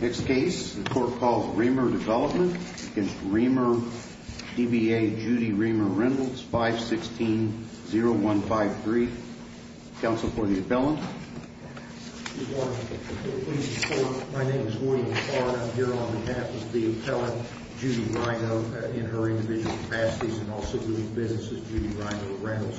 Next case, the court calls Reimer Development v. Reimer, DBA, Judy Reimer-Reynolds, 516-0153. Counsel for the appellant. My name is William Carr and I'm here on behalf of the appellant, Judy Reino, in her individual capacities and also doing business with Judy Reino-Reynolds.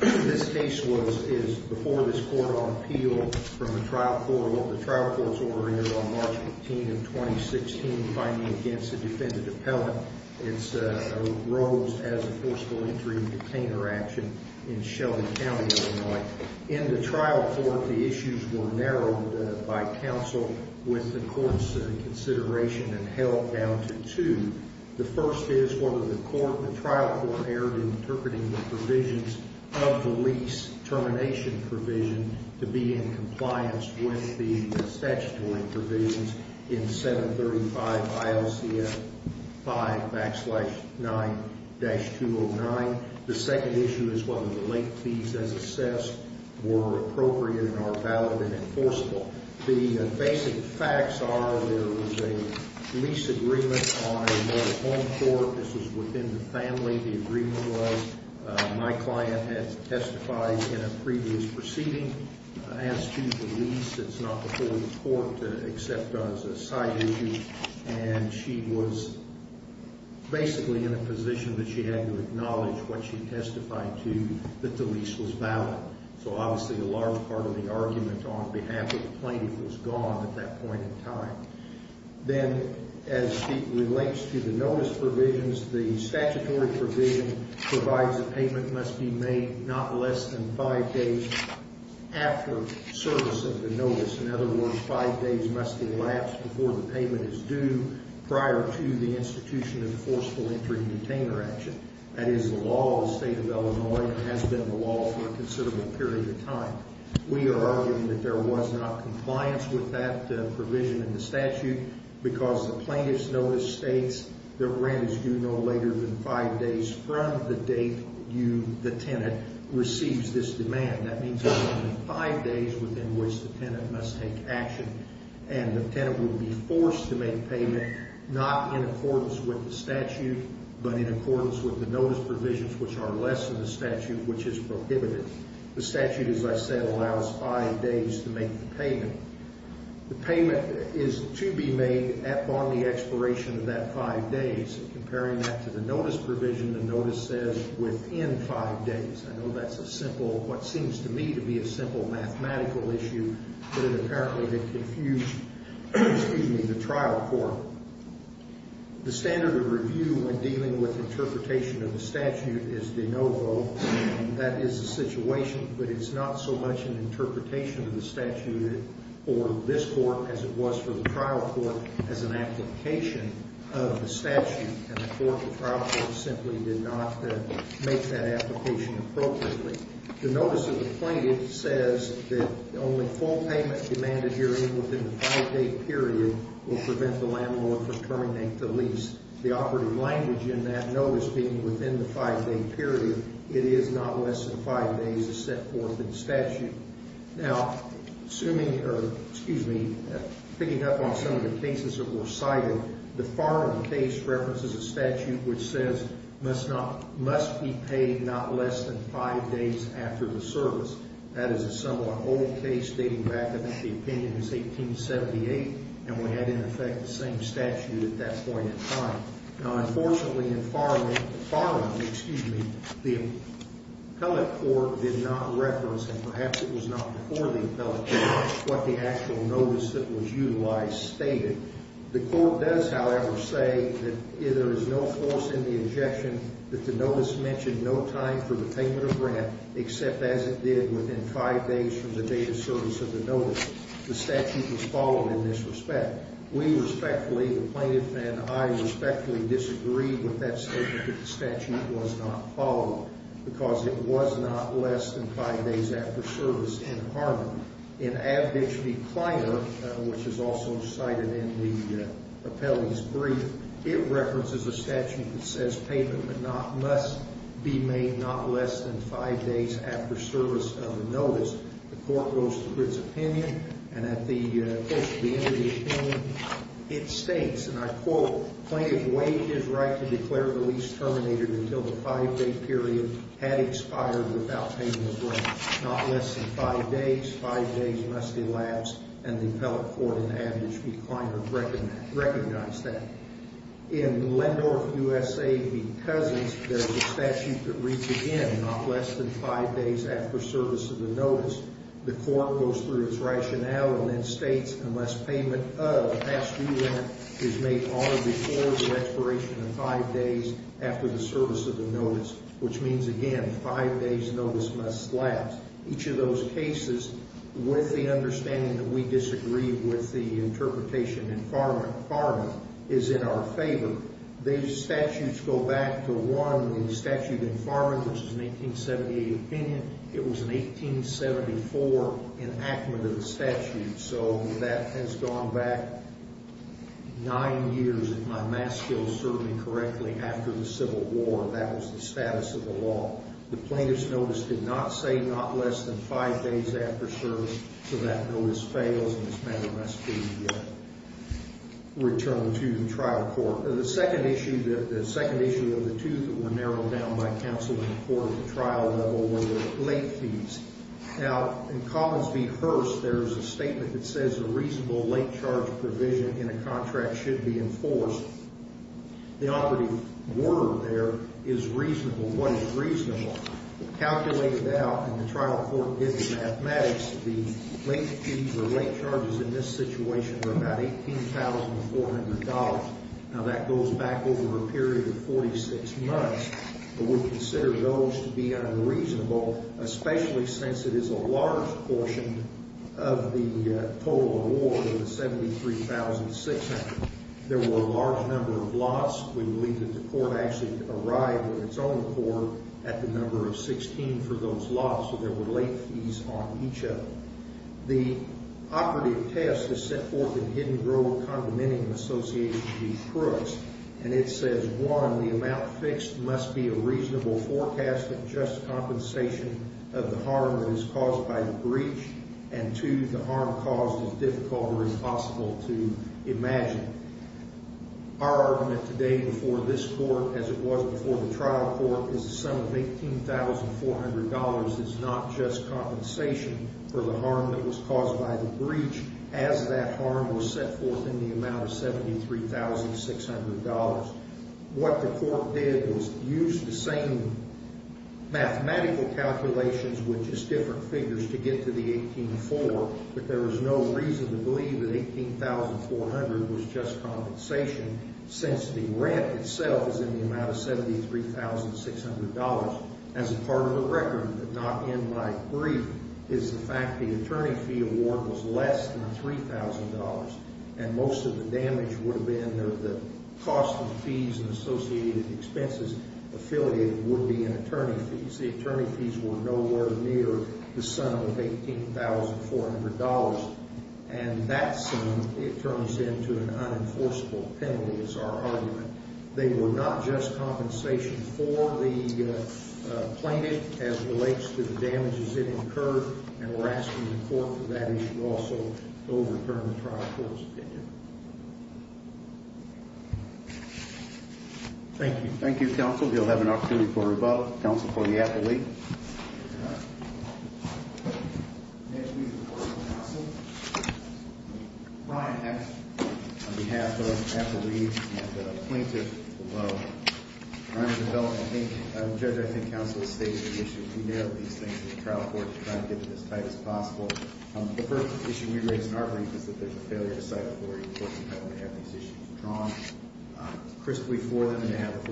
This case was, is before this court on appeal from the trial court, the trial court's order aired on March 15th of 2016, finding against a defendant appellant, it's, rose as a forcible injury detainer action in Shelby County, Illinois. In the trial court, the issues were narrowed by counsel with the court's consideration and held down to two. The first is whether the court, the trial court erred in interpreting the provisions of the lease termination provision to be in compliance with the statutory provisions in 735 ILCF 5 backslash 9-209. The second issue is whether the late fees as assessed were appropriate and are valid and enforceable. The basic facts are there was a lease agreement on a mobile home court. This was within the family. The agreement was my client had testified in a previous proceeding as to the lease. It's not before the court to accept as a side issue and she was basically in a position that she had to acknowledge what she testified to that the lease was valid. So obviously a large part of the argument on behalf of the plaintiff was gone at that point in time. Then as it relates to the notice provisions, the statutory provision provides a payment must be made not less than five days after service of the notice. In other words, five days must elapse before the payment is due prior to the institution of forceful entry and retainer action. That is the law of the state of Illinois and has been the law for a considerable period of time. We are arguing that there was not compliance with that provision in the statute because the plaintiff's notice states that rent is due no later than five days from the date you, the tenant, receives this demand. That means there's only five days within which the tenant must take action and the tenant will be forced to make payment not in accordance with the statute, but in accordance with the notice provisions, which are less than the statute, which is prohibited. The statute, as I said, allows five days to make the payment. The payment is to be made upon the expiration of that five days. Comparing that to the notice provision, the notice says within five days. I know that's a simple, what seems to me to be a simple mathematical issue, but it apparently did confuse, excuse me, the trial court. The standard of review when dealing with interpretation of the statute is de novo. That is a situation, but it's not so much an interpretation of the statute or this court as it was for the trial court as an application of the statute and the court, the trial court, simply did not make that application appropriately. The notice of the plaintiff says that only full payment demanded hearing within the five day period will prevent the landlord from terminating the lease. The operative language in that notice being within the five day period, it is not less than five days as set forth in statute. Now, assuming, or excuse me, picking up on some of the cases that were cited, the Farnham case references a statute which says must be paid not less than five days after the service. That is a somewhat old case dating back, I think the opinion is 1878, and we had in effect the same statute at that point in time. Now, unfortunately in Farnham, excuse me, the appellate court did not reference, and perhaps it was not before the appellate court, what the actual notice that was utilized stated. The court does, however, say that there is no force in the injection that the notice mentioned no time for the payment of rent, except as it did within five days from the date of service of the notice. The statute was followed in this respect. We respectfully, the plaintiff and I respectfully disagreed with that statement that the statute was not followed because it was not less than five days after service in Farnham. In Avedich v. Kleiner, which is also cited in the appellee's brief, it references a statute that says payment must be made not less than five days after service of the notice, the court goes to its opinion, and at the end of the opinion, it states, and I quote, plaintiff waived his right to declare the lease terminated until the five-day period had expired without payment of rent, not less than five days, five days must elapse, and the appellate court in Avedich v. Kleiner recognized that. In Lendorf, USA v. Cousins, there's a statute that reads again, not less than five days after service of the notice, the court goes through its rationale and then states unless payment of past due rent is made only before the expiration of five days after the service of the notice, which means, again, five days notice must elapse. Each of those cases, with the understanding that we disagreed with the interpretation in Farnham, is in our favor. These statutes go back to one, the statute in Farnham, which is an 1878 opinion, it was an 1874 enactment of the statute, so that has gone back nine years after the Civil War, that was the status of the law. The plaintiff's notice did not say not less than five days after service, so that notice fails and this matter must be returned to the trial court. The second issue of the two that were narrowed down by counsel and the court at the trial level were the late fees. Now, in Collins v. Hearst, there's a statement that says a reasonable late charge provision in a contract should be enforced. The operative word there is reasonable. What is reasonable? Calculated out in the trial court in the mathematics, the late fees or late charges in this situation were about $18,400. Now, that goes back over a period of 46 months, but we consider those to be unreasonable, especially since it is a large portion of the total award of the $173,600. There were a large number of lots. We believe that the court actually arrived with its own court at the number of 16 for those lots, so there were late fees on each of them. The operative test is set forth in hidden grove condominium associated with these crooks, and it says, one, the amount fixed must be a reasonable forecast of just compensation of the harm that is caused by the breach, and two, the harm caused is difficult or impossible to imagine. Our argument today before this court, as it was before the trial court, is the sum of $18,400 is not just compensation for the harm that was caused by the breach, as that harm was set forth in the amount of $73,600. What the court did was use the same mathematical calculations with just compensation, and there's no reason to believe that $18,400 was just compensation since the rent itself is in the amount of $73,600 as a part of the record, but not in my brief, is the fact the attorney fee award was less than $3,000, and most of the damage would have been, or the cost of fees and associated expenses affiliated would be in attorney fees. The attorney fees were nowhere near the sum of $18,400, and that sum, it turns into an unenforceable penalty is our argument. They were not just compensation for the plaintiff as relates to the damages it incurred, and we're asking the court for that issue also to overturn the trial court's opinion. Thank you. Thank you, counsel. You'll have an opportunity for a rebuttal. Counsel for the appellee. Brian Hex on behalf of Appellee and the plaintiff. I think, Judge, I think counsel has stated the issue. We narrow these things to the trial court to try and get it as tight as possible. The first issue we raise in our brief is that there's a failure to cite authority. Of course, we have to have these issues drawn crisply for them, and to have a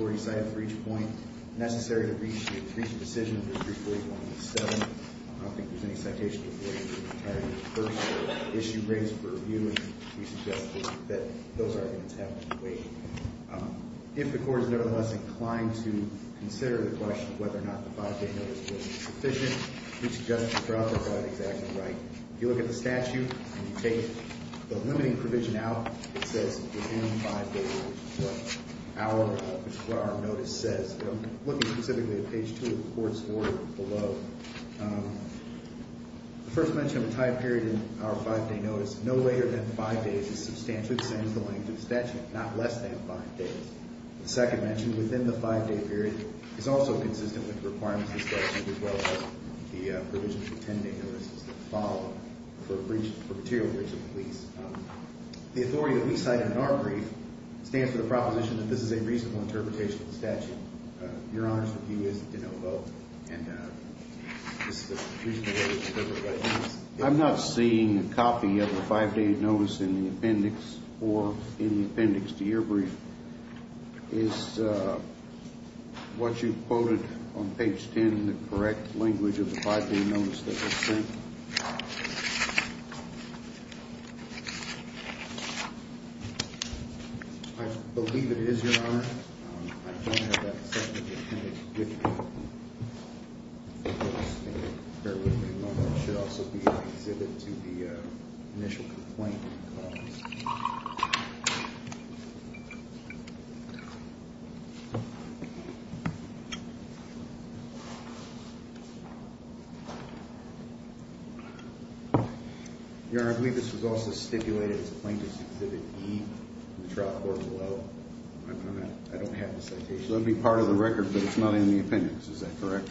viewpoint necessary to reach a decision under 348.1.7. I don't think there's any citation authority in the entirety of the first issue raised for review, and we suggest that those arguments have to wait. If the court is nevertheless inclined to consider the question of whether or not the five-day notice would be sufficient, we suggest the trial court have it exactly right. If you look at the statute and you take the limiting provision out, it says within five days, which is what our notice says, but I'm looking specifically at page two of the court's order below. The first mention of a time period in our five-day notice, no later than five days is substantially the same as the length of the statute, not less than five days. The second mention within the five-day period is also consistent with the requirements of the statute, as well as the provisions of the 10-day notices that follow for material breaches of the lease. The authority that we cite in our brief stands for the proposition that this is a reasonable interpretation of the statute. Your Honor's review is de novo, and this is a reasonable way to interpret it. I'm not seeing a copy of the five-day notice in the appendix or in the appendix to your brief. Is what you've quoted on page 10 the correct language of the five-day notice that was sent? I believe it is, Your Honor. I don't have that section of the appendix with me. I think it was stated earlier in the moment. It should also be in the exhibit to the initial complaint. Your Honor, I believe this was also stipulated as a plaintiff's exhibit E in the trial court below. I don't have the citation. That would be part of the record, but it's not in the appendix. Is that correct?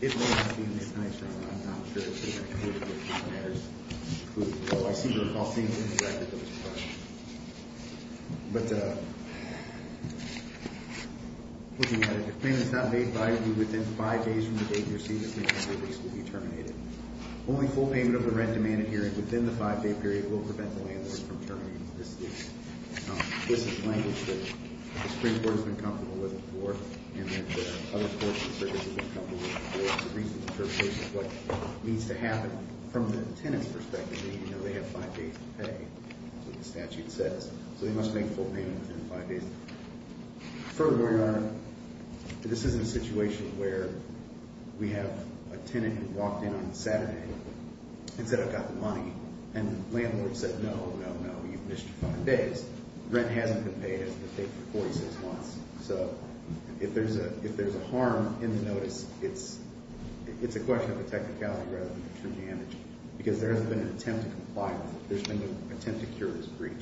It may not be in the appendix, Your Honor. I'm not sure it's in the appendix, but it matters. So I see your call seems to be directed to this part. But looking at it, if the claim is not made by you within five days from the date you received the complaint, your case will be terminated. Only full payment of the rent demanded here and within the five-day period will prevent the landlord from terminating the case. This is language that the Supreme Court has been comfortable with before, and that other courts and services have been comfortable with before. It's a reasonable interpretation of what needs to happen. From the tenant's perspective, they have five days to pay. That's what the statute says. So they must make full payment within the five days. Furthermore, Your Honor, this is a situation where we have a tenant who walked in on Saturday and said, I've got the money. And the landlord said, no, no, no, you've missed five days. Rent hasn't been paid. It hasn't been paid for 46 months. So if there's a harm in the notice, it's a question of the technicality rather than the true damage. Because there has been an attempt to comply with it. There's been an attempt to cure this breach.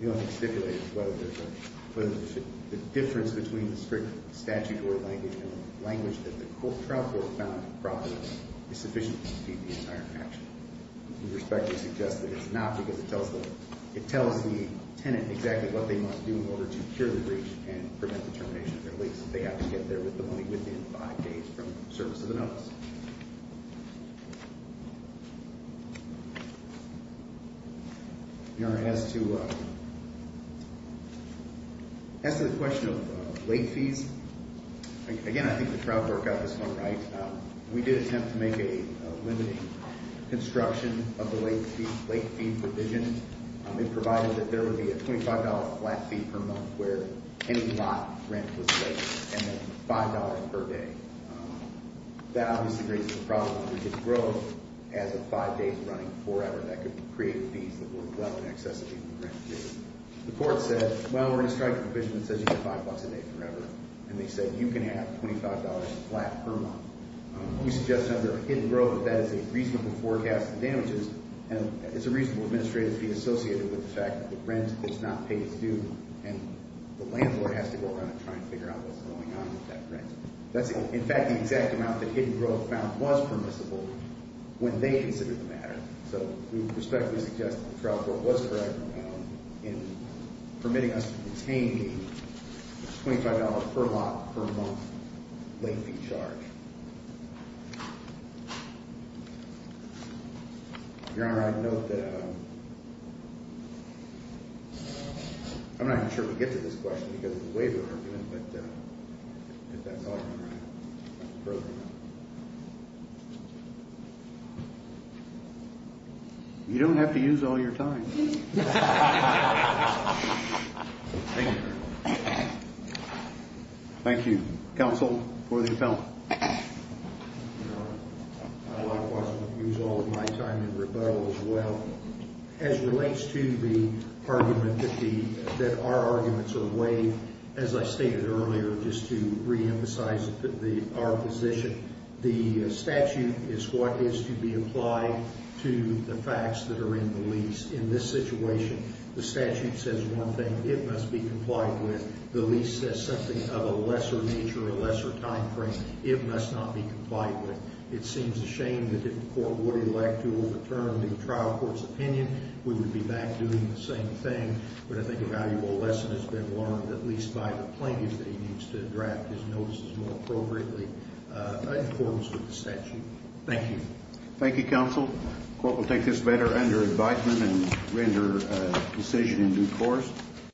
The only stipulation is whether there's a difference between the strict statute or language that the trial court found in the property is sufficient to speed the entire action. We respectfully suggest that it's not because it tells the tenant exactly what they must do in order to cure the breach and prevent the termination of their lease. That they have to get there with the money within five days from the service of the notice. Your Honor, as to the question of late fees, again, I think the trial court got this one right. We did attempt to make a limiting construction of the late fee provision. It provided that there would be a $25 flat fee per month where any lot rent was paid and then $5 per day. That obviously raises the problem of rigid growth as of five days running forever. That could create fees that would allow an excess of even rent to be paid. The court said, well, we're going to strike a provision that says you get five bucks a day forever. And they said, you can have $25 flat per month. We suggest under a hidden growth that that is a reasonable forecast of damages. And it's a reasonable administrative fee associated with the fact that the rent is not paid due and the landlord has to go around and try and figure out what's going on with that rent. That's, in fact, the exact amount that hidden growth found was permissible when they considered the matter. So we respectfully suggest that the trial court was correct in permitting us to retain the $25 per lot per month late fee charge. Your Honor, I'd note that I'm not even sure we get to this question because it's way over argument, but if that's all right, I'd like to further it out. You don't have to use all your time. Thank you. Thank you, counsel for the appellant. Your Honor, I likewise would use all of my time in rebuttal as well. As relates to the argument that our arguments are waived, as I stated earlier, just to reemphasize our position, the statute is what is to be applied to the facts that are in the lease. In this situation, the statute says one thing. It must be complied with. The lease says something of a lesser nature, a lesser time frame. It must not be complied with. It seems a shame that if the court would elect to overturn the trial court's opinion, we would be back doing the same thing. But I think a valuable lesson has been learned, at least by the plaintiffs, that he needs to draft his notices more appropriately in accordance with the statute. Thank you. Thank you, counsel. Court will take this matter under invitement and render a decision in due course.